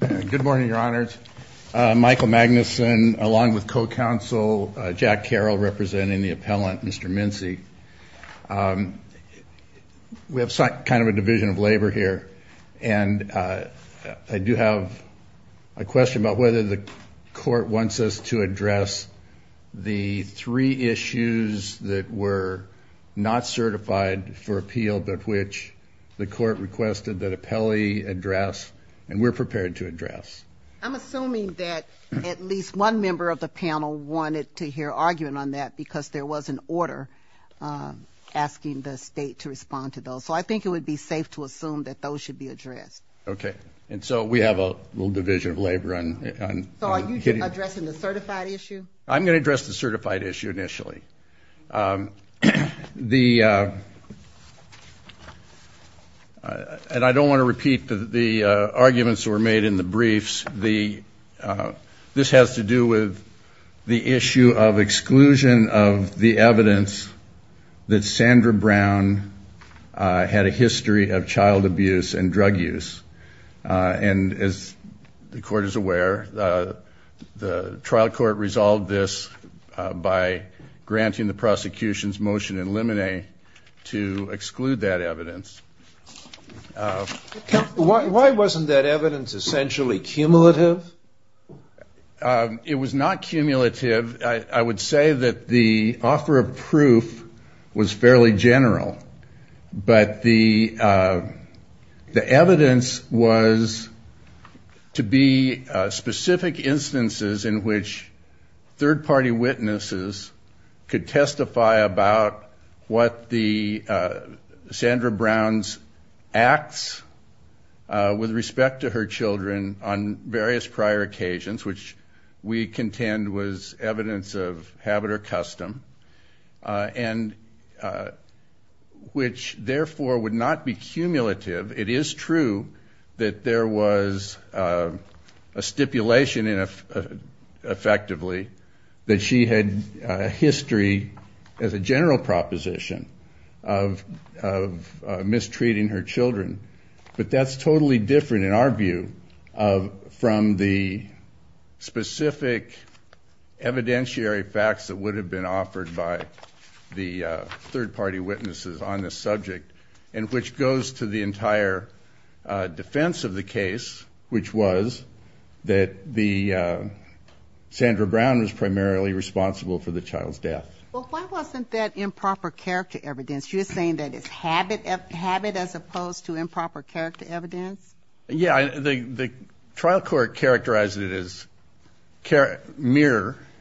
Good morning your honors. Michael Magnuson along with co-counsel Jack Carroll representing the appellant Mr. Mincey. We have some kind of a division of labor here and I do have a question about whether the court wants us to address the three issues that were not certified for appeal but which the court requested that appellee address and we're prepared to address. I'm assuming that at least one member of the panel wanted to hear argument on that because there was an order asking the state to respond to those so I think it would be safe to assume that those should be addressed. Okay and so we have a little division of labor. So are you addressing the certified issue? I'm going to address the and I don't want to repeat the arguments that were made in the briefs. The this has to do with the issue of exclusion of the evidence that Sandra Brown had a history of child abuse and drug use and as the court is aware the trial court resolved this by granting the prosecution's motion in limine to exclude that evidence. Why wasn't that evidence essentially cumulative? It was not cumulative. I would say that the offer of proof was fairly general but the the evidence was to be specific instances in which third-party witnesses could testify about what the Sandra Brown's acts with respect to her children on various prior occasions which we contend was evidence of habit or custom and which therefore would not be cumulative. It is true that there was a stipulation effectively that she had history as a general proposition of mistreating her children but that's totally different in our view from the specific evidentiary facts that would have been offered by the third-party witnesses on this subject and which goes to the entire defense of the case which was that the Sandra Brown was primarily responsible for the child's death. But why wasn't that improper character evidence? You're saying that it's habit as opposed to improper character evidence? Yeah I think the trial court characterized it as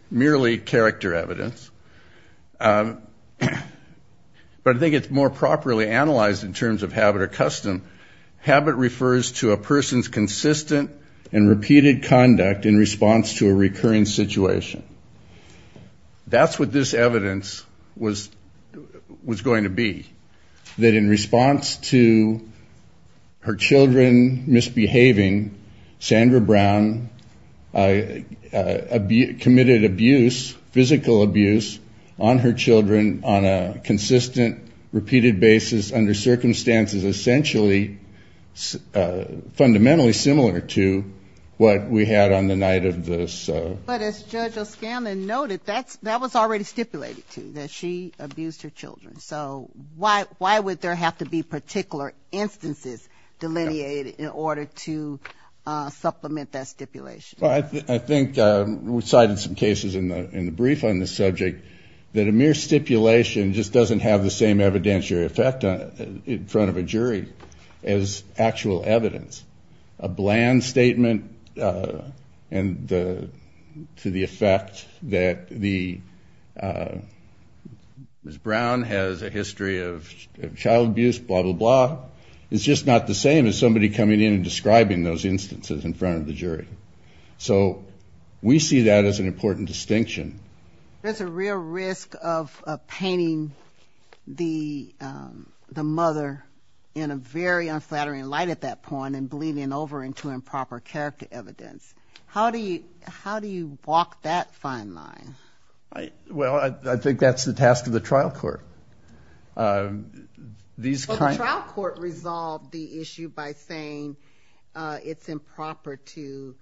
merely character evidence but I think it's more properly analyzed in terms of habit or custom. Habit refers to a person's consistent and repeated conduct in response to a recurring situation. That's what this evidence was going to be. That in response to her children misbehaving, Sandra Brown committed abuse, physical abuse, on her children on a consistent repeated basis under circumstances essentially fundamentally similar to what we had on the night of this. But as Judge O'Scanlan noted that's that was already stipulated to that she abused her children so why why would there have to be particular instances delineated in order to supplement that stipulation? I think we cited some cases in the in the brief on the subject that a mere stipulation just doesn't have the same evidentiary effect in front of a bland statement and to the effect that the Ms. Brown has a history of child abuse blah blah blah it's just not the same as somebody coming in and describing those instances in front of the jury. So we see that as an important distinction. There's a real risk of painting the the mother in a very improper character evidence. How do you how do you walk that fine line? Well I think that's the task of the trial court. The trial court resolved the issue by saying it's improper to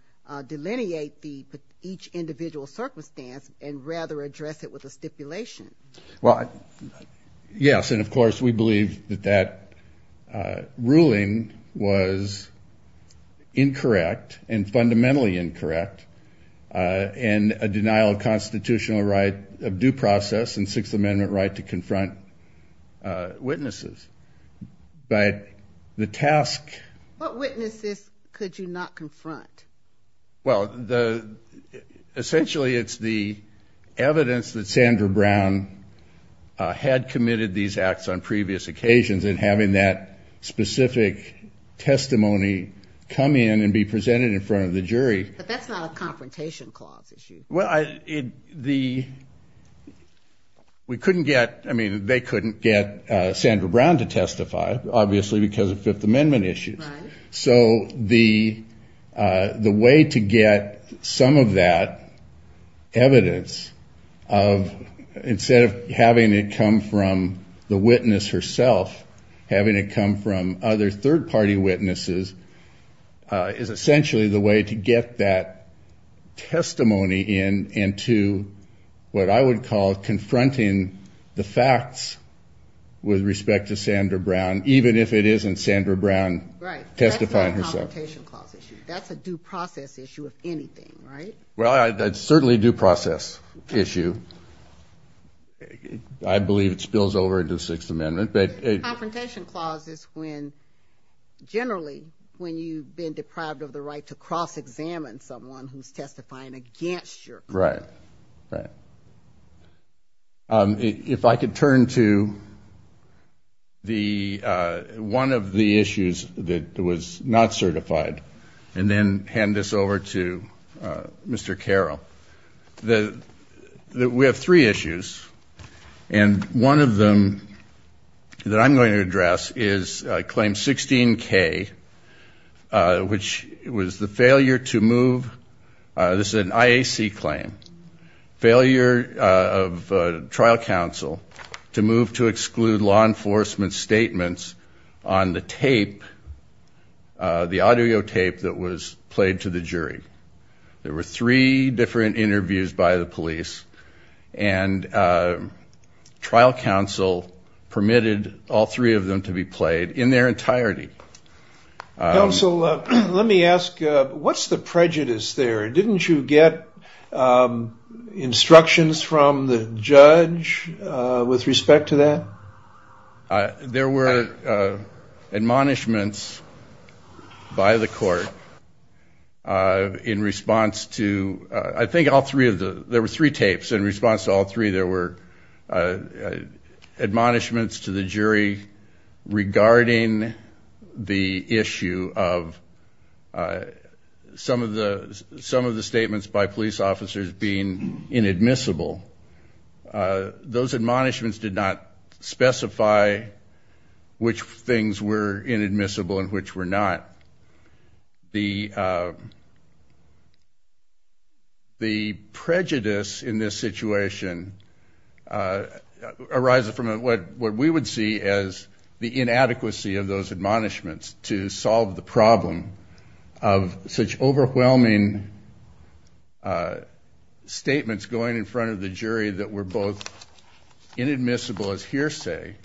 delineate the each individual circumstance and rather address it with a stipulation. Well yes and of course we believe that that stipulation was incorrect and fundamentally incorrect and a denial of constitutional right of due process and Sixth Amendment right to confront witnesses but the task. What witnesses could you not confront? Well the essentially it's the evidence that Sandra Brown had committed these acts on testimony come in and be presented in front of the jury. That's not a confrontation clause issue. Well I the we couldn't get I mean they couldn't get Sandra Brown to testify obviously because of Fifth Amendment issues. So the the way to get some of that evidence of instead of having it come from the party witnesses is essentially the way to get that testimony in and to what I would call confronting the facts with respect to Sandra Brown even if it isn't Sandra Brown testifying herself. That's a due process issue of anything right? Well that's certainly due process issue. I believe it spills over into Sixth Generally when you've been deprived of the right to cross-examine someone who's testifying against you. Right, right. If I could turn to the one of the issues that was not certified and then hand this over to Mr. Carroll. The we have three issues and one of them that I'm going to address is claim 16k which was the failure to move this is an IAC claim failure of trial counsel to move to exclude law enforcement statements on the tape the audio tape that was played to the jury. There were three different interviews by the police and trial counsel permitted all three of them to be played in their entirety. So let me ask what's the prejudice there? Didn't you get instructions from the judge with in response to I think all three of the there were three tapes in response to all three there were admonishments to the jury regarding the issue of some of the some of the statements by police officers being inadmissible. Those admonishments did not specify which things were inadmissible and which were not. The prejudice in this situation arises from what we would see as the inadequacy of those admonishments to solve the problem of such overwhelming statements going in front of the jury that were both inadmissible as hearsay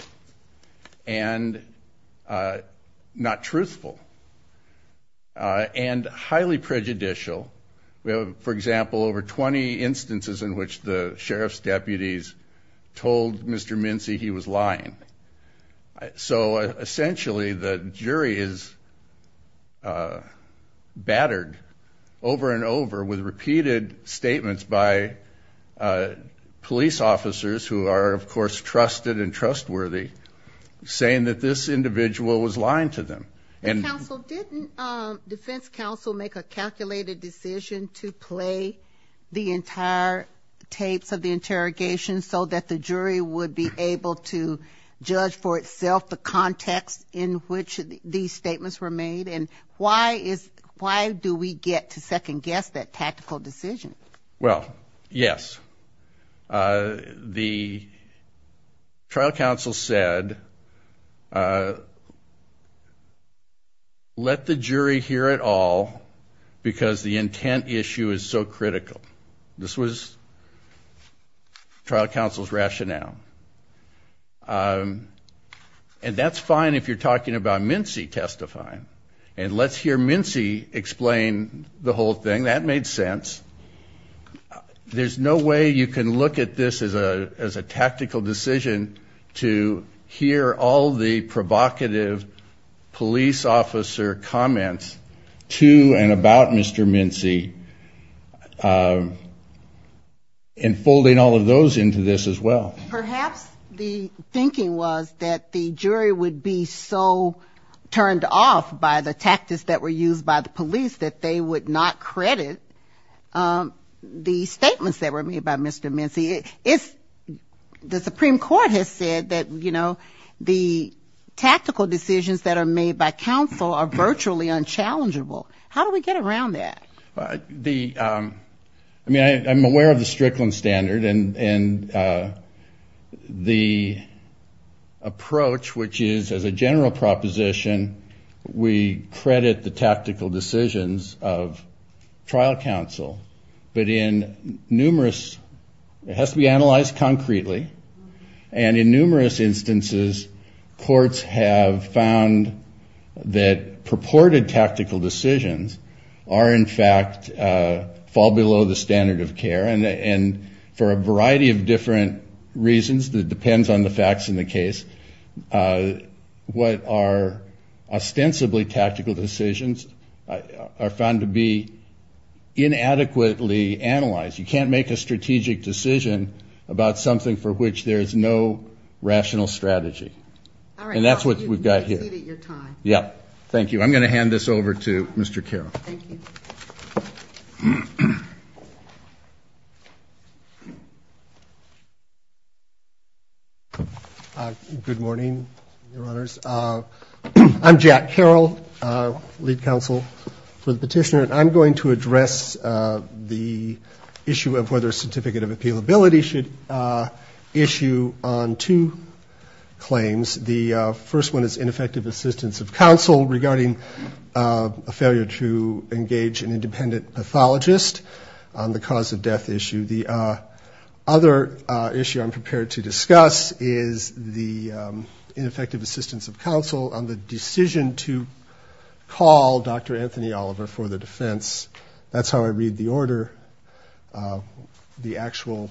and not truthful and highly prejudicial. We have for example over 20 instances in which the sheriff's deputies told Mr. Mincy he was lying. So essentially the jury is battered over and over with repeated statements by police officers who are of course trusted and trustworthy saying that this individual was lying to them. Didn't defense counsel make a calculated decision to play the entire tapes of the interrogation so that the jury would be able to judge for itself the context in which these statements were made and why is why do we get to second-guess that tactical decision? Well, yes. The trial counsel said let the jury hear it all because the intent issue is so critical. This was trial counsel's rationale and that's fine if you're talking about Mincy testifying and let's hear Mincy explain the whole thing. That made sense. There's no way you can look at this as a as a tactical decision to hear all the provocative police officer comments to and about Mr. Mincy and folding all of into this as well. Perhaps the thinking was that the jury would be so turned off by the tactics that were used by the police that they would not credit the statements that were made by Mr. Mincy. It's the Supreme Court has said that you know the tactical decisions that are made by counsel are virtually unchallengeable. How do we get around that? I mean I'm aware of the the approach which is as a general proposition we credit the tactical decisions of trial counsel but in numerous it has to be analyzed concretely and in numerous instances courts have found that purported tactical decisions are in fact fall below the standard of care and and for a different reasons that depends on the facts in the case what are ostensibly tactical decisions are found to be inadequately analyzed. You can't make a strategic decision about something for which there is no rational strategy and that's what we've got here. Yeah thank you. I'm going to hand this over to Mr. Carroll. Good morning your honors. I'm Jack Carroll lead counsel for the petitioner and I'm going to address the issue of whether a certificate of appealability should issue on two claims. The first one is ineffective assistance of counsel regarding a failure to engage an independent pathologist on the cause of death issue. The other issue I'm prepared to discuss is the ineffective assistance of counsel on the decision to call Dr. Anthony Oliver for the defense. That's how I read the order. The actual.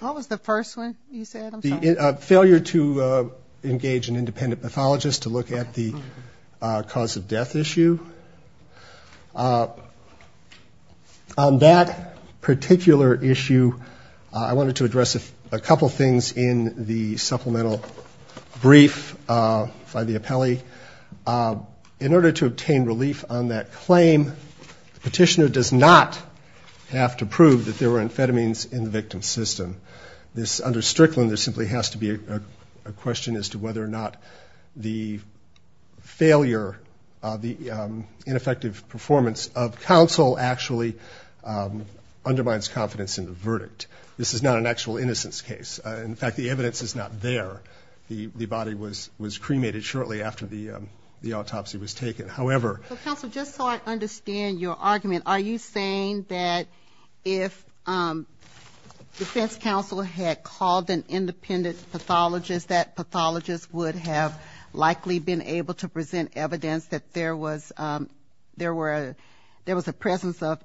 What was the first one you said? The failure to engage an independent pathologist to look at the cause of death issue. On that particular issue I wanted to address a couple things in the supplemental brief by the appellee. In order to obtain relief on that claim the petitioner does not have to prove that there were amphetamines in the victim's system. This under Strickland there simply has to be a question as to whether or not the failure of the ineffective performance of counsel actually undermines confidence in the verdict. This is not an actual innocence case. In fact the evidence is not there. The body was cremated shortly after the the autopsy was taken. However. Counsel just so I understand your argument are you saying that if defense counsel had called an independent pathologist that pathologist would have likely been able to present evidence that there was there were there was a presence of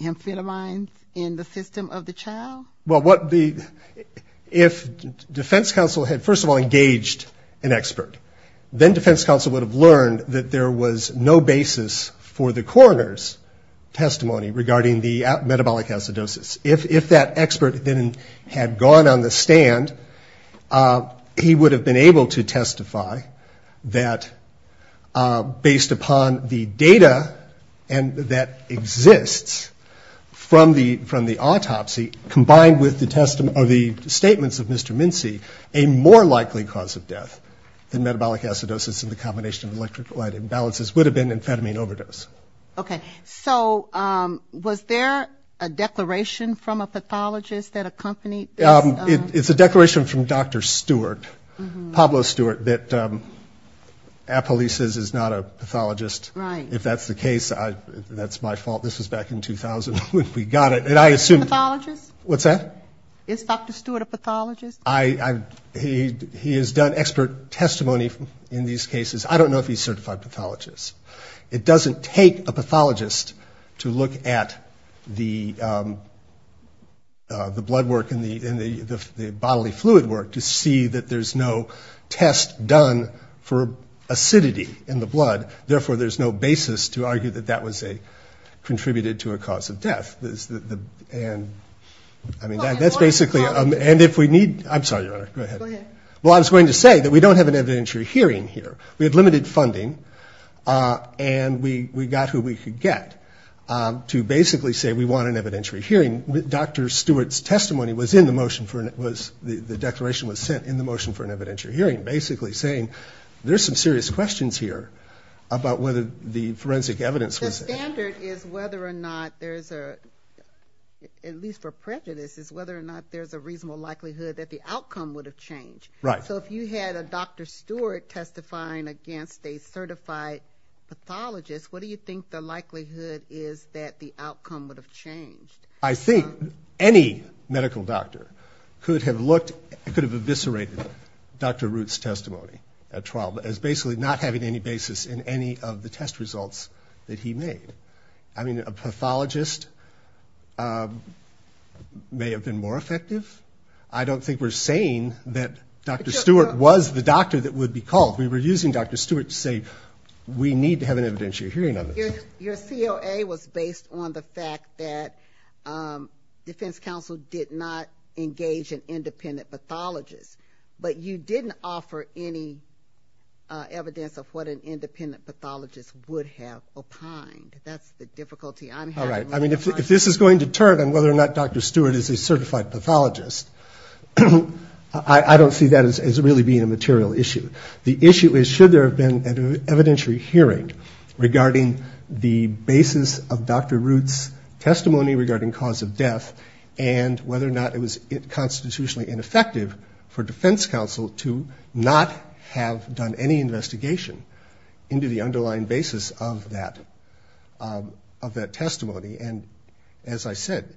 amphetamines in the system of the child? Well what the if defense counsel had first of all engaged an expert then defense counsel would have learned that there was no basis for the coroner's testimony regarding the metabolic acidosis. If that expert didn't had gone on the stand he would have been able to testify that based upon the data and that exists from the from the autopsy combined with the the statements of Mr. Mincy a more likely cause of death than metabolic acidosis in the combination of electrolyte imbalances would have been amphetamine overdose. Okay so was there a declaration from a pathologist that accompanied? It's a declaration from Dr. Stewart Pablo Stewart that Apollices is not a pathologist. Right. If that's the case I that's my fault this was back in 2000 when we got it and I assumed. Is he a pathologist? What's that? Is Dr. Stewart a pathologist? I he has done expert testimony in these cases I don't know if he's certified pathologist. It doesn't take a pathologist to look at the the blood work in the in the bodily fluid work to see that there's no test done for acidity in the blood therefore there's no basis to argue that that was a contributed to a cause of death. And I mean that's basically and if we need I'm sorry your honor go ahead well I was going to say that we don't have an evidentiary hearing here we had limited funding and we we got who we could get to basically say we want an evidentiary hearing with Dr. Stewart's testimony was in the motion for it was the the declaration was sent in the motion for an evidentiary hearing basically saying there's some serious questions here about whether the forensic evidence standard is whether or not there's a at least for prejudice is whether or not there's a reasonable likelihood that the outcome would have changed right so if you had a Dr. Stewart testifying against a certified pathologist what do you think the likelihood is that the outcome would have changed? I think any medical doctor could have looked it could have eviscerated Dr. Root's testimony at trial but as basically not having any basis in any of the test results that he made. I mean a pathologist may have been more effective I don't think we're saying that Dr. Stewart was the doctor that would be called we were using Dr. Stewart to say we need to have an evidentiary hearing on this. Your COA was based on the fact that Defense Counsel did not engage an independent pathologist but you didn't offer any evidence of what an independent pathologist would have opined. That's the difficulty. All right I mean if this is going to turn on whether or not Dr. Stewart is a certified pathologist I don't see that as really being a material issue. The issue is should there have been an evidentiary hearing regarding the basis of Dr. Root's testimony regarding cause of death and investigation into the underlying basis of that of that testimony and as I said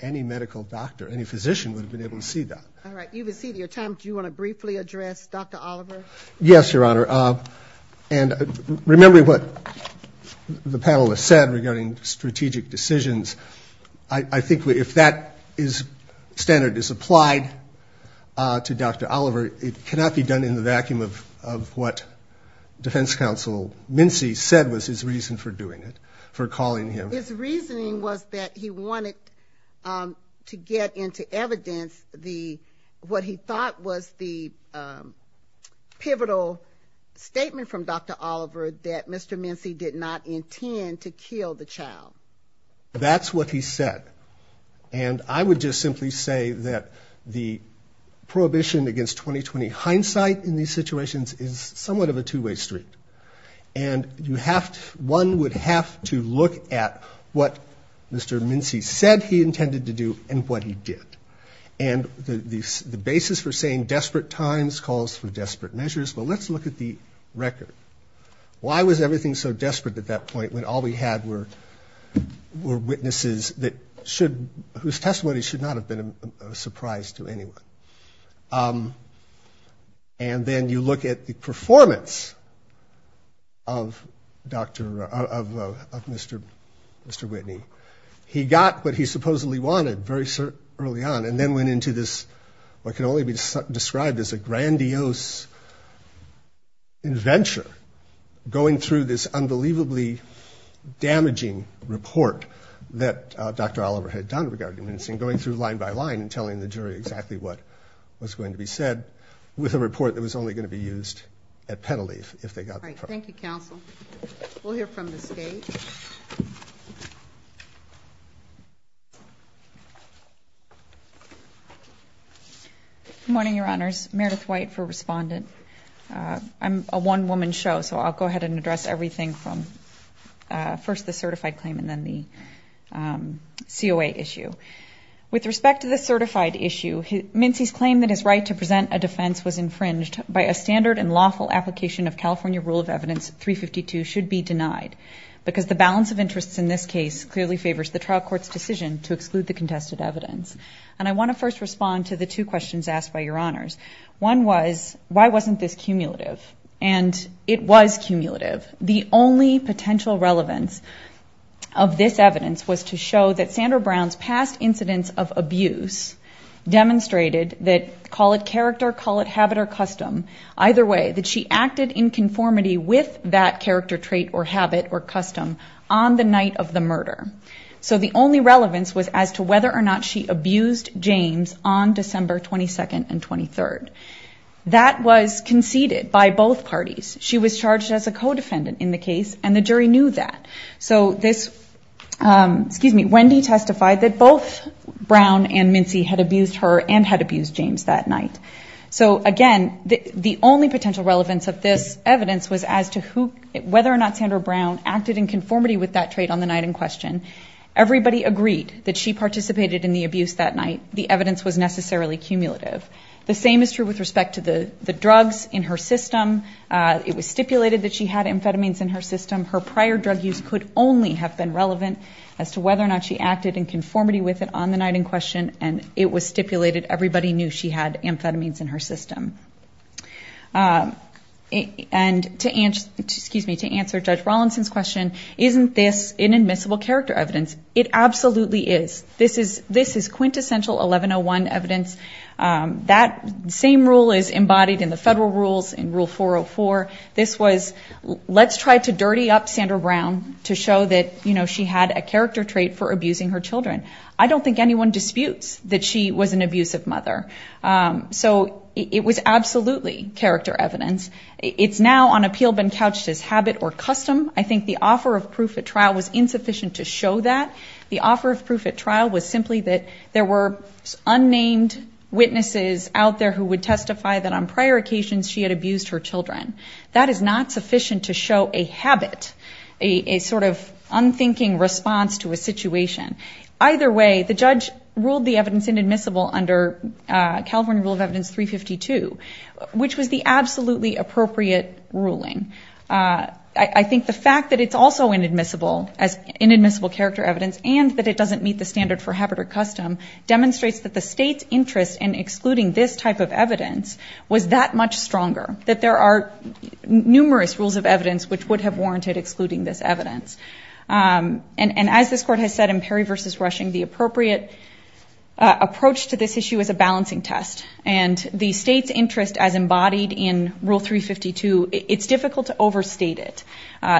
any medical doctor any physician would have been able to see that. All right you have exceeded your time. Do you want to briefly address Dr. Oliver? Yes Your Honor and remember what the panelists said regarding strategic decisions. I think if that is standard is applied to Dr. Oliver it cannot be done in the defense counsel Mincy said was his reason for doing it for calling him. His reasoning was that he wanted to get into evidence the what he thought was the pivotal statement from Dr. Oliver that Mr. Mincy did not intend to kill the child. That's what he said and I would just simply say that the prohibition against 20-20 hindsight in these situations is somewhat of a two-way street and you have one would have to look at what Mr. Mincy said he intended to do and what he did and the basis for saying desperate times calls for desperate measures but let's look at the record. Why was everything so desperate at that point when all we had were were witnesses that should whose testimony should not have been a surprise to anyone and then you look at the performance of Dr. of Mr. Mr. Whitney. He got what he supposedly wanted very early on and then went into this what can only be described as a grandiose adventure going through this unbelievably damaging report that Dr. Oliver had done regarding Mincy and going through line by line and telling the jury exactly what was going to be said with a report that was only going to be used at penalty if they got. Thank you counsel we'll hear from the stage. Morning your honors Meredith White for respondent. I'm a one-woman show so I'll go ahead and address everything from first the certified claim and then the COA issue. With respect to the certified issue Mincy's claim that his right to present a defense was infringed by a standard and lawful application of California rule of evidence 352 should be denied because the balance of interests in this case clearly favors the trial courts decision to exclude the contested evidence and I want to first respond to the two questions asked by your honors. One was why wasn't this cumulative and it was cumulative the only potential relevance of this evidence was to show that Sandra Brown's past incidents of abuse demonstrated that call it character call it habit or custom either way that she acted in conformity with that character trait or habit or custom on the night of the murder so the only relevance was as to whether or not she abused James on December 22nd and 23rd that was conceded by both parties she was charged as a co-defendant in the case and the jury knew that so this Wendy testified that both Brown and Mincy had abused her and had abused James that night so again the only potential relevance of this evidence was as to who whether or not Sandra Brown acted in conformity with that trade on the night in question everybody agreed that she participated in the abuse that night the evidence was necessarily cumulative the same is true with respect to the the drugs in her system it was stipulated that she had amphetamines in her system her prior drug use could only have been relevant as to whether or not she acted in conformity with it on the night in question and it was stipulated everybody knew she had amphetamines in her system and to answer excuse me to answer judge Rawlinson's question isn't this an admissible character evidence it absolutely is this is this is quintessential 1101 evidence that same rule is embodied in the federal rules in rule 404 this was let's try to dirty up Sandra Brown to show that you know she had a character trait for abusing her children I don't think anyone disputes that she was an abusive mother so it was absolutely character evidence it's now on appeal been couched as habit or custom I think the offer of proof at trial was insufficient to show that the offer of proof at trial was simply that there were unnamed witnesses out there who would testify that on prior occasions she had abused her children that is not sufficient to show a habit a sort of unthinking response to a situation either way the judge ruled the evidence inadmissible under California rule of evidence 352 which was the absolutely appropriate ruling I think the fact that it's also inadmissible as inadmissible character evidence and that it doesn't meet the standard for habit or custom demonstrates that the state's interest in excluding this type of evidence was that much stronger that there are numerous rules of evidence which would have warranted excluding this evidence and and as this court has said in Perry versus rushing the appropriate approach to this issue is a balancing test and the state's interest as embodied in rule 352 it's difficult to overstate it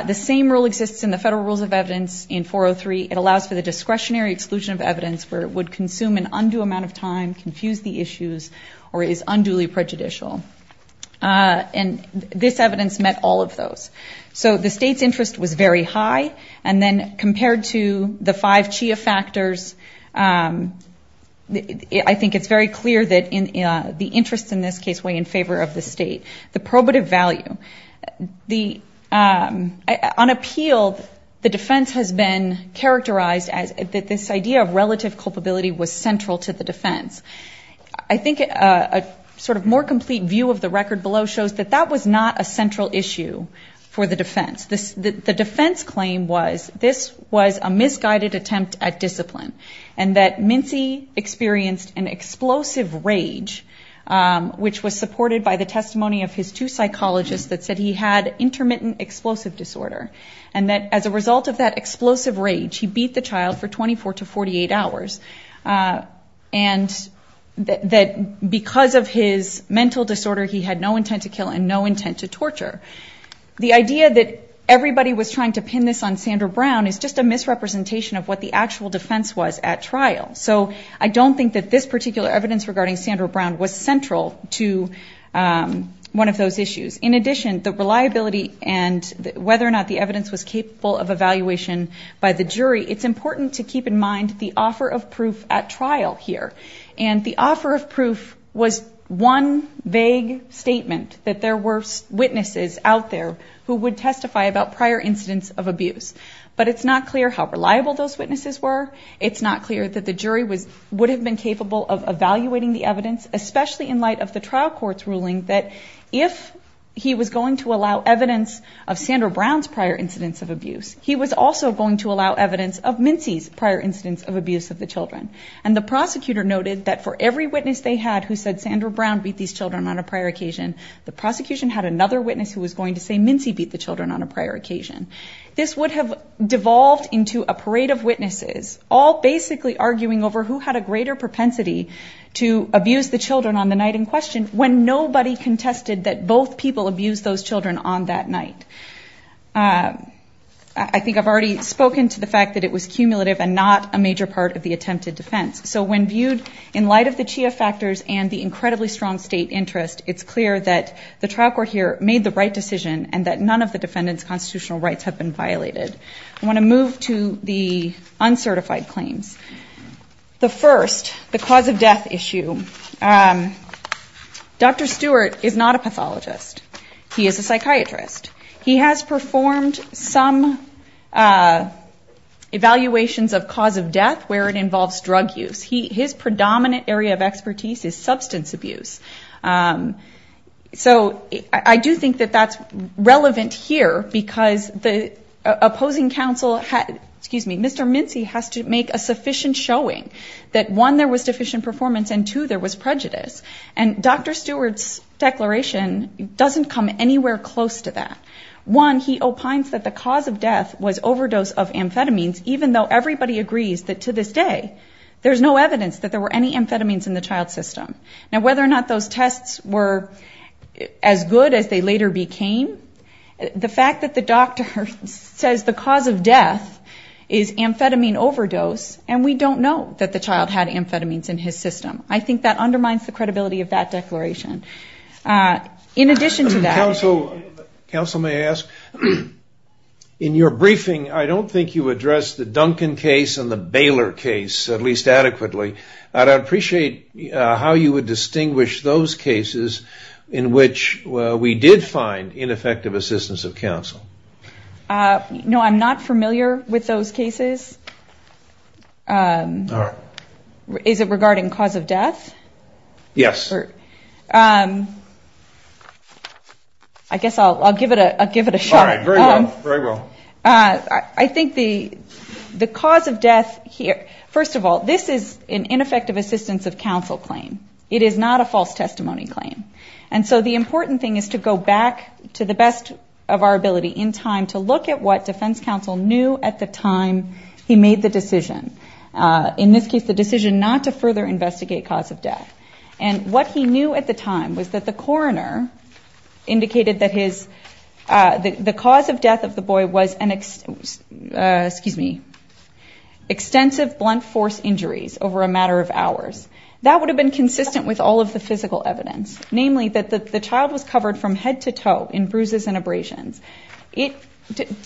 the same rule exists in the federal rules of evidence in 403 it would consume an undue amount of time confuse the issues or is unduly prejudicial and this evidence met all of those so the state's interest was very high and then compared to the five chia factors I think it's very clear that in the interest in this case way in favor of the state the probative value the on appeal the defense has been characterized as that this idea of relative culpability was central to the defense I think a sort of more complete view of the record below shows that that was not a central issue for the defense this the defense claim was this was a misguided attempt at discipline and that Mincy experienced an explosive rage which was supported by the testimony of his two psychologists that said he had intermittent explosive disorder and that as a result of that explosive rage he beat the child for 24 to 48 hours and that because of his mental disorder he had no intent to kill and no intent to torture the idea that everybody was trying to pin this on Sandra Brown is just a misrepresentation of what the actual defense was at trial so I don't think that this particular evidence regarding Sandra Brown was central to one of those issues in addition the reliability and whether or not the evaluation by the jury it's important to keep in mind the offer of proof at trial here and the offer of proof was one vague statement that there were witnesses out there who would testify about prior incidents of abuse but it's not clear how reliable those witnesses were it's not clear that the jury was would have been capable of evaluating the evidence especially in light of the trial court's ruling that if he was going to allow evidence of Sandra Brown's prior incidents of abuse he was also going to allow evidence of Mincy's prior incidents of abuse of the children and the prosecutor noted that for every witness they had who said Sandra Brown beat these children on a prior occasion the prosecution had another witness who was going to say Mincy beat the children on a prior occasion this would have devolved into a parade of witnesses all basically arguing over who had a greater propensity to abuse the children on the night in question when nobody contested that both people abuse those children on that night I think I've already spoken to the fact that it was cumulative and not a major part of the attempted defense so when viewed in light of the Chia factors and the incredibly strong state interest it's clear that the trial court here made the right decision and that none of the defendants constitutional rights have been violated I want to move to the uncertified claims the first the cause of death issue dr. Stewart is not a pathologist he is a psychiatrist he has performed some evaluations of cause of death where it involves drug use he his predominant area of expertise is substance abuse so I do think that that's relevant here because the opposing counsel had excuse me mr. Mincy has to make a sufficient showing that one there was deficient performance and two there was prejudice and dr. Stewart's declaration doesn't come anywhere close to that one he opines that the cause of death was overdose of amphetamines even though everybody agrees that to this day there's no evidence that there were any amphetamines in the child system now whether or not those tests were as good as they later became the fact that the doctor says the cause of death is amphetamine overdose and we don't know that the child had amphetamines in his system I think that undermines the credibility of that declaration in addition to that counsel may ask in your briefing I don't think you address the Duncan case and the Baylor case at least adequately I'd appreciate how you would distinguish those cases in which we did find ineffective assistance of counsel no I'm not familiar with those cases is it regarding cause of death yes I guess I'll give it a give it a shot I think the the cause of death here first of all this is an ineffective assistance of counsel claim it is not a false testimony claim and so the important thing is to go back to the best of our ability in time to look at what Defense Counsel knew at the time he made the decision in this case the decision not to further investigate cause of death and what he knew at the time was that the coroner indicated that his the cause of death of the boy was an excuse me extensive blunt force injuries over a matter of hours that would have been consistent with all of the physical evidence namely that the child was head-to-toe in bruises and abrasions it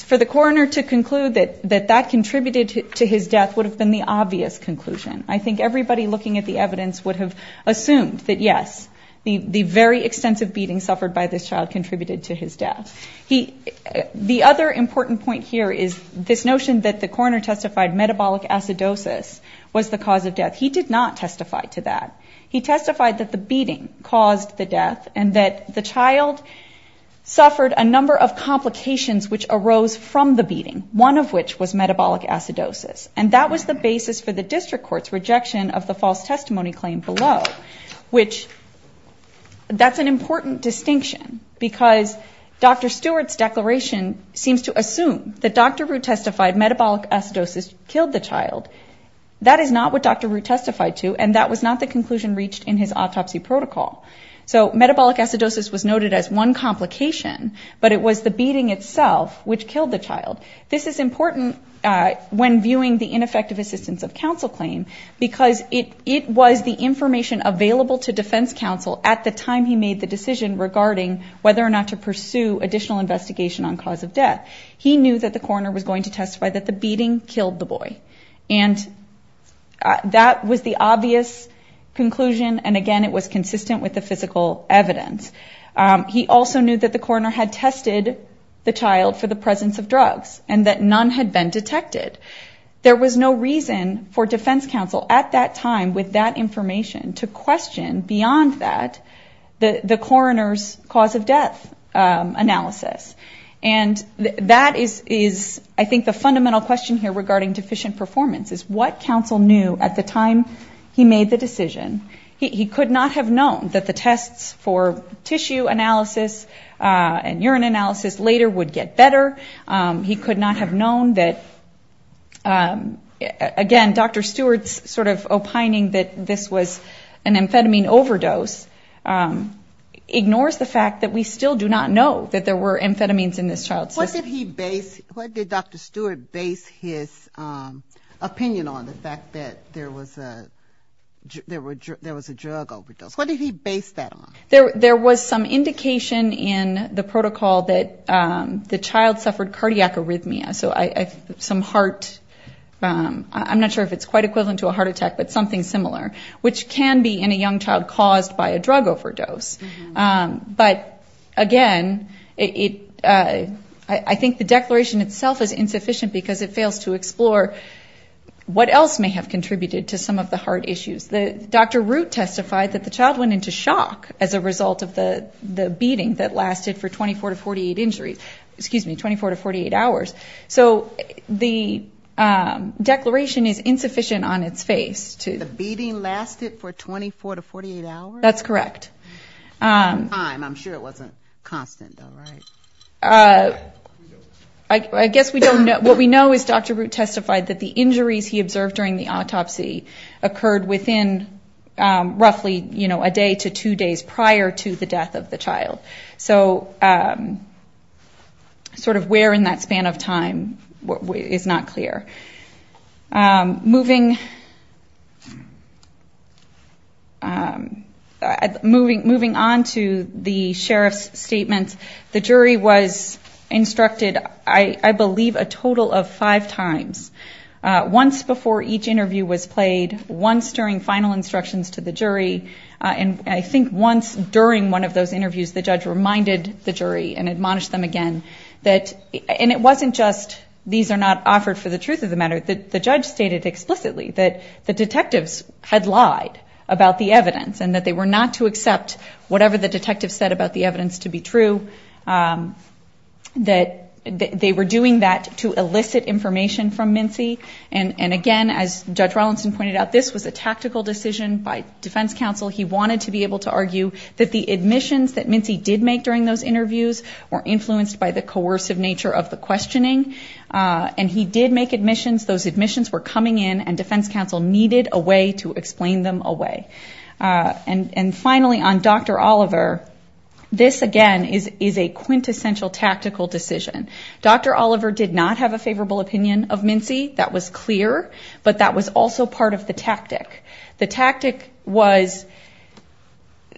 for the coroner to conclude that that that contributed to his death would have been the obvious conclusion I think everybody looking at the evidence would have assumed that yes the the very extensive beating suffered by this child contributed to his death he the other important point here is this notion that the corner testified metabolic acidosis was the cause of death he did not testify to that he testified that the child suffered a number of complications which arose from the beating one of which was metabolic acidosis and that was the basis for the district courts rejection of the false testimony claim below which that's an important distinction because dr. Stewart's declaration seems to assume that dr. Rue testified metabolic acidosis killed the child that is not what dr. Rue testified to and that was not the conclusion reached in his autopsy protocol so metabolic acidosis was noted as one complication but it was the beating itself which killed the child this is important when viewing the ineffective assistance of counsel claim because it it was the information available to defense counsel at the time he made the decision regarding whether or not to pursue additional investigation on cause of death he knew that the corner was going to testify that the beating killed the boy and that was the obvious conclusion and again it was consistent with the physical evidence he also knew that the corner had tested the child for the presence of drugs and that none had been detected there was no reason for defense counsel at that time with that information to question beyond that the the coroner's cause of death analysis and that is is I think the fundamental question here regarding deficient performance is what counsel knew at the time he made the decision he could not have known that the tests for tissue analysis and urine analysis later would get better he could not have known that again dr. Stewart's sort of opining that this was an amphetamine overdose ignores the fact that we still do not know that there were amphetamines in this child's what did he base what did dr. Stewart base his opinion on the fact that there was a there were there was a drug overdose what did he base that on there there was some indication in the protocol that the child suffered cardiac arrhythmia so I some heart I'm not sure if it's quite equivalent to a heart attack but something similar which can be in a young child caused by a drug overdose but again it I think the declaration itself is insufficient because it fails to explore what else may have contributed to some of the heart issues the dr. root testified that the child went into shock as a result of the the beating that lasted for 24 to 48 injuries excuse me 24 to 48 hours so the declaration is insufficient on its face to the beating lasted for 24 to 48 hours that's correct I'm sure it wasn't constant I guess we don't know what we know is dr. root testified that the injuries he observed during the autopsy occurred within roughly you know a day to two days prior to the death of the moving moving on to the sheriff's statement the jury was instructed I believe a total of five times once before each interview was played once during final instructions to the jury and I think once during one of those interviews the judge reminded the jury and admonished them again that and it wasn't just these are not offered for the truth of the matter that the judge stated explicitly that the detectives had lied about the evidence and that they were not to accept whatever the detective said about the evidence to be true that they were doing that to elicit information from Mincy and and again as judge Rawlinson pointed out this was a tactical decision by defense counsel he wanted to be able to argue that the admissions that Mincy did make during those interviews were influenced by the coercive nature of the questioning and he did make admissions those admissions were coming in and defense counsel needed a way to explain them away and and finally on dr. Oliver this again is is a quintessential tactical decision dr. Oliver did not have a favorable opinion of Mincy that was clear but that was also part of the tactic the tactic was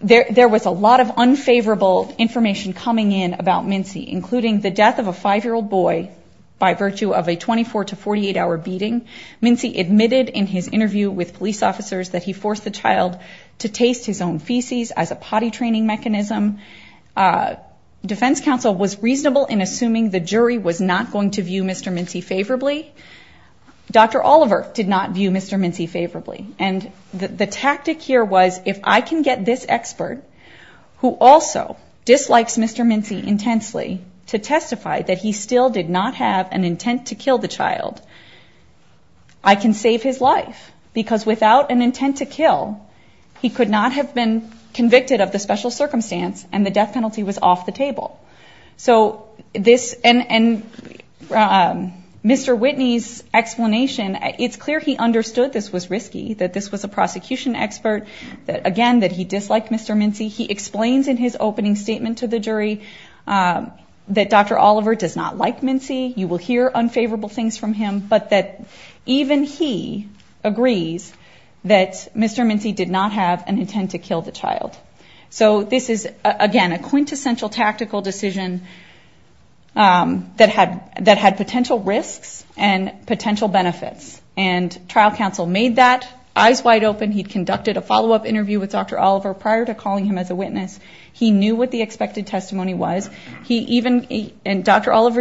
there there was a lot of unfavorable information coming in about Mincy including the death of a five-year-old boy by virtue of a 24 to 48 hour beating Mincy admitted in his interview with police officers that he forced the child to taste his own feces as a potty training mechanism defense counsel was reasonable in assuming the jury was not going to view mr. Mincy favorably dr. Oliver did not view mr. Mincy favorably and the tactic here was if I can get this expert who also dislikes mr. Mincy intensely to testify that he still did not have an intent to kill the child I can save his life because without an intent to kill he could not have been convicted of the special circumstance and the death penalty was off the table so this and and mr. Whitney's explanation it's clear he understood this was risky that this was a prosecution expert that again that he disliked mr. Mincy he explains in his not like Mincy you will hear unfavorable things from him but that even he agrees that mr. Mincy did not have an intent to kill the child so this is again a quintessential tactical decision that had that had potential risks and potential benefits and trial counsel made that eyes wide open he'd conducted a follow-up interview with dr. Oliver prior to calling him as a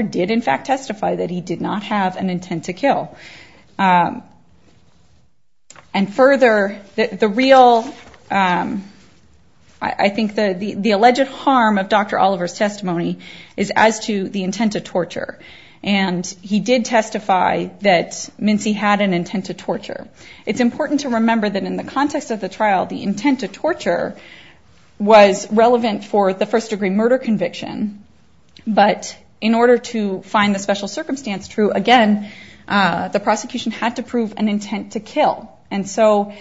did in fact testify that he did not have an intent to kill and further the real I think the the alleged harm of dr. Oliver's testimony is as to the intent of torture and he did testify that Mincy had an intent to torture it's important to remember that in the context of the trial the intent to torture was relevant for the first-degree murder conviction but in order to find the special circumstance true again the prosecution had to prove an intent to kill and so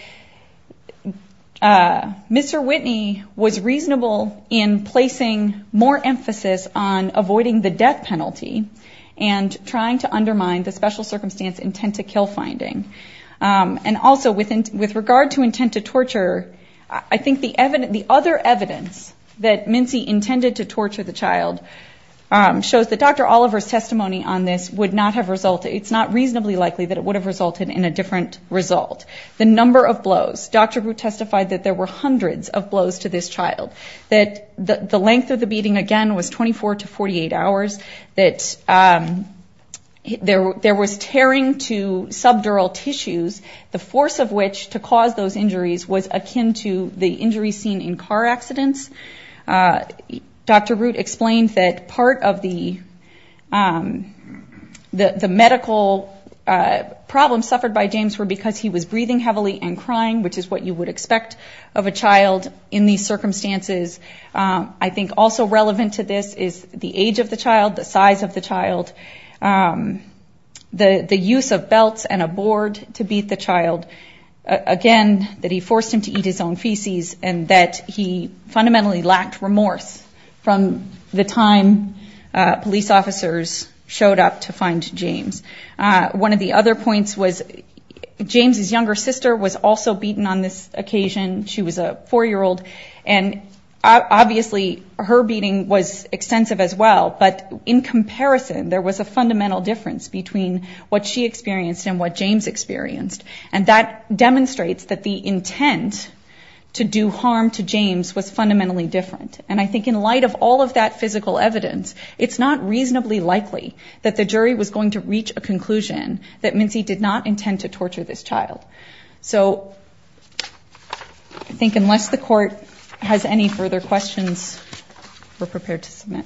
mr. Whitney was reasonable in placing more emphasis on avoiding the death penalty and trying to undermine the special circumstance intent to kill finding and also within with regard to intent to torture I think the evident the other evidence that Mincy intended to torture the child shows that dr. Oliver's testimony on this would not have resulted it's not reasonably likely that it would have resulted in a different result the number of blows dr. who testified that there were hundreds of blows to this child that the length of the beating again was 24 to 48 hours that there was tearing to subdural tissues the force of which to cause those injuries was akin to the injury seen in car accidents dr. root explained that part of the the medical problem suffered by James were because he was breathing heavily and crying which is what you would expect of a child in these circumstances I think also relevant to this is the age of the child the size of the child the the use of belts and a board to beat the child again that he forced him to eat his own and that he fundamentally lacked remorse from the time police officers showed up to find James one of the other points was James's younger sister was also beaten on this occasion she was a four-year-old and obviously her beating was extensive as well but in comparison there was a fundamental difference between what she experienced and what James experienced and that demonstrates that the intent to do harm to James was fundamentally different and I think in light of all of that physical evidence it's not reasonably likely that the jury was going to reach a conclusion that Mincy did not intend to torture this child so I think unless the court has any further questions we're prepared to submit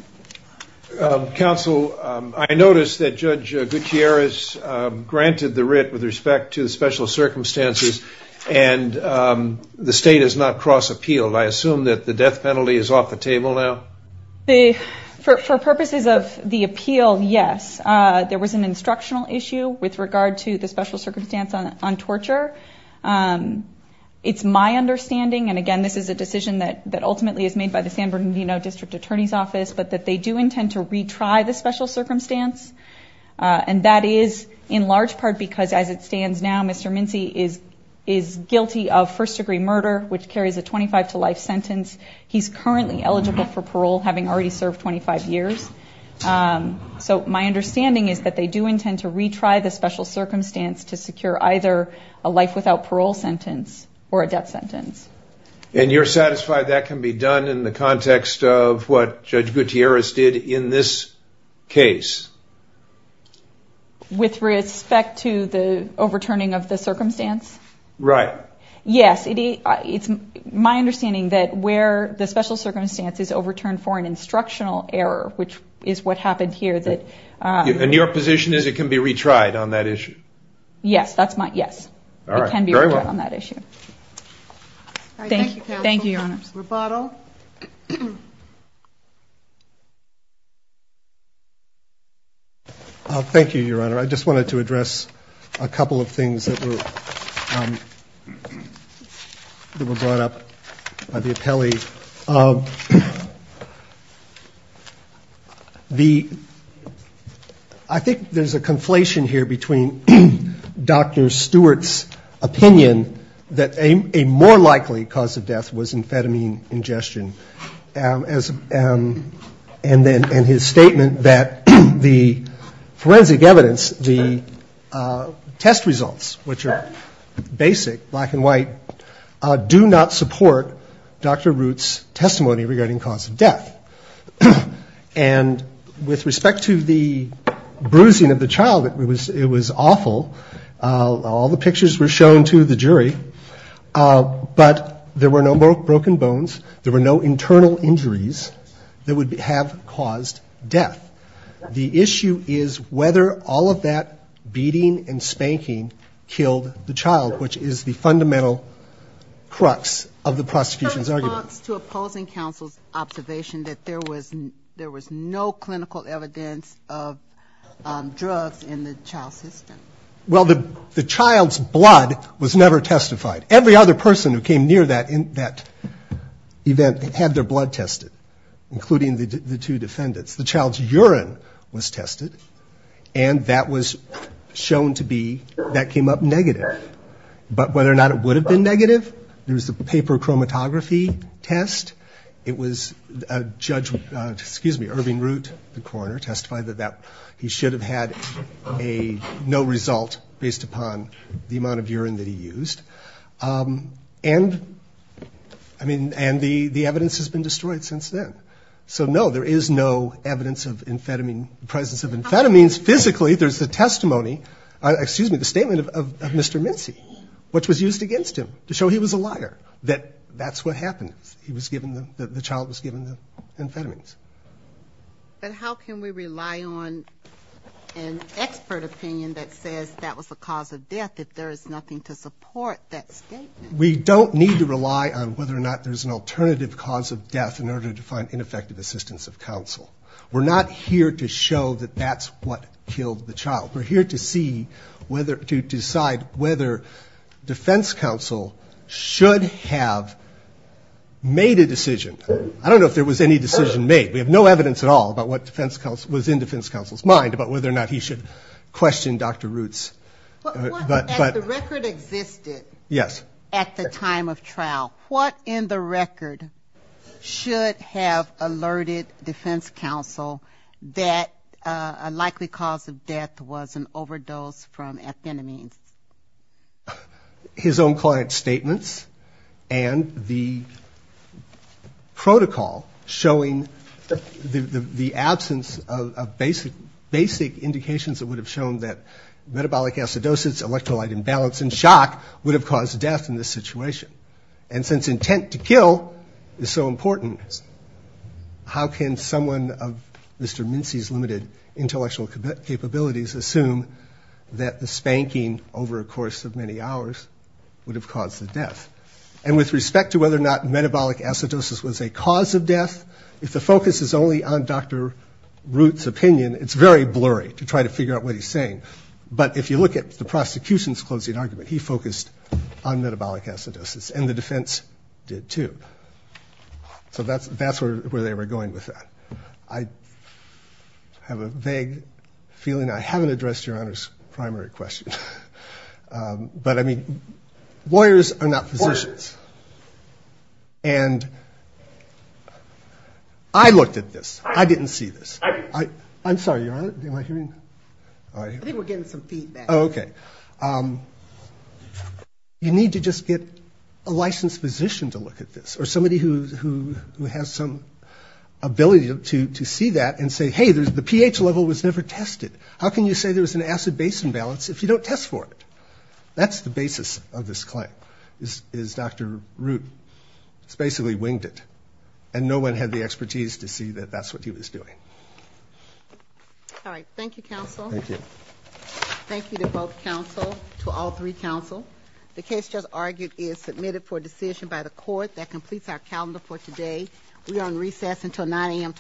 counsel I noticed that judge Gutierrez granted the writ with respect to the special circumstances and the state is not cross-appealed I assume that the death penalty is off the table now they for purposes of the appeal yes there was an instructional issue with regard to the special circumstance on torture it's my understanding and again this is a decision that that ultimately is made by the San Bernardino District Attorney's Office but that they do intend to retry the special circumstance and that is in large part because as it is now Mr. Mincy is is guilty of first-degree murder which carries a 25 to life sentence he's currently eligible for parole having already served 25 years so my understanding is that they do intend to retry the special circumstance to secure either a life without parole sentence or a death sentence and you're satisfied that can be done in the context of what judge right yes it is my understanding that where the special circumstances overturned for an instructional error which is what happened here that in your position is it can be retried on that issue yes that's my yes all right can be right on that issue thank you thank you your bottle thank you your honor I just wanted to address a couple of things that were brought up by the appellee the I think there's a conflation here between dr. Stewart's opinion that a more likely cause of death was amphetamine ingestion as and then and his statement that the forensic evidence the test results which are basic black and white do not support dr. roots testimony regarding cause of death and with respect to the bruising of the child it was it was awful all the pictures were shown to the jury but there were no more broken bones there were no internal injuries that would have caused death the issue is whether all of that beating and spanking killed the child which is the fundamental crux of the prosecution's argument to opposing counsel's observation that there was there was no clinical evidence of drugs in the child system well the the child's blood was never testified every other person who came near that in that event had their blood tested including the two defendants the child's urine was tested and that was shown to be that came up negative but whether or not it would have been negative there was the paper chromatography test it was a judge excuse me Irving root the coroner testified that that he should have had a no result based upon the amount of urine that he used and I mean and the the evidence has been destroyed since then so no there is no evidence of amphetamine presence of amphetamines physically there's the testimony excuse me the statement of mr. Mincy which was used against him to show he was a liar that that's what happened he was given the child was given the amphetamines but how can we rely on an expert opinion that says that was the cause of death if there is nothing to support that statement we don't need to rely on whether or not there's an alternative cause of death in order to find ineffective assistance of counsel we're not here to show that that's what killed the child we're here to see whether to decide whether defense counsel should have made a decision I don't know if there was any decision made we have no evidence at all about what defense counsel was in defense counsel's mind about whether or not he should question dr. roots yes at the time of trial what in the record should have alerted defense counsel that a likely cause of and the protocol showing the absence of basic basic indications that would have shown that metabolic acidosis electrolyte imbalance and shock would have caused death in this situation and since intent to kill is so important how can someone of mr. Mincy's limited intellectual capabilities assume that spanking over a course of many hours would have caused the death and with respect to whether or not metabolic acidosis was a cause of death if the focus is only on dr. roots opinion it's very blurry to try to figure out what he's saying but if you look at the prosecution's closing argument he focused on metabolic acidosis and the defense did too so that's that's where where they were going with that I have a vague feeling I haven't addressed your primary question but I mean lawyers are not physicians and I looked at this I didn't see this I I'm sorry you're on it okay you need to just get a licensed physician to look at this or somebody who has some ability to see that and say hey there's the pH level was never tested how can you say there was an acid base imbalance if you don't test for it that's the basis of this claim is dr. root it's basically winged it and no one had the expertise to see that that's what he was doing all right thank you counsel thank you thank you to both counsel to all three counsel the case just argued is submitted for decision by the court that completes our calendar for today we are on recess until 9 a.m.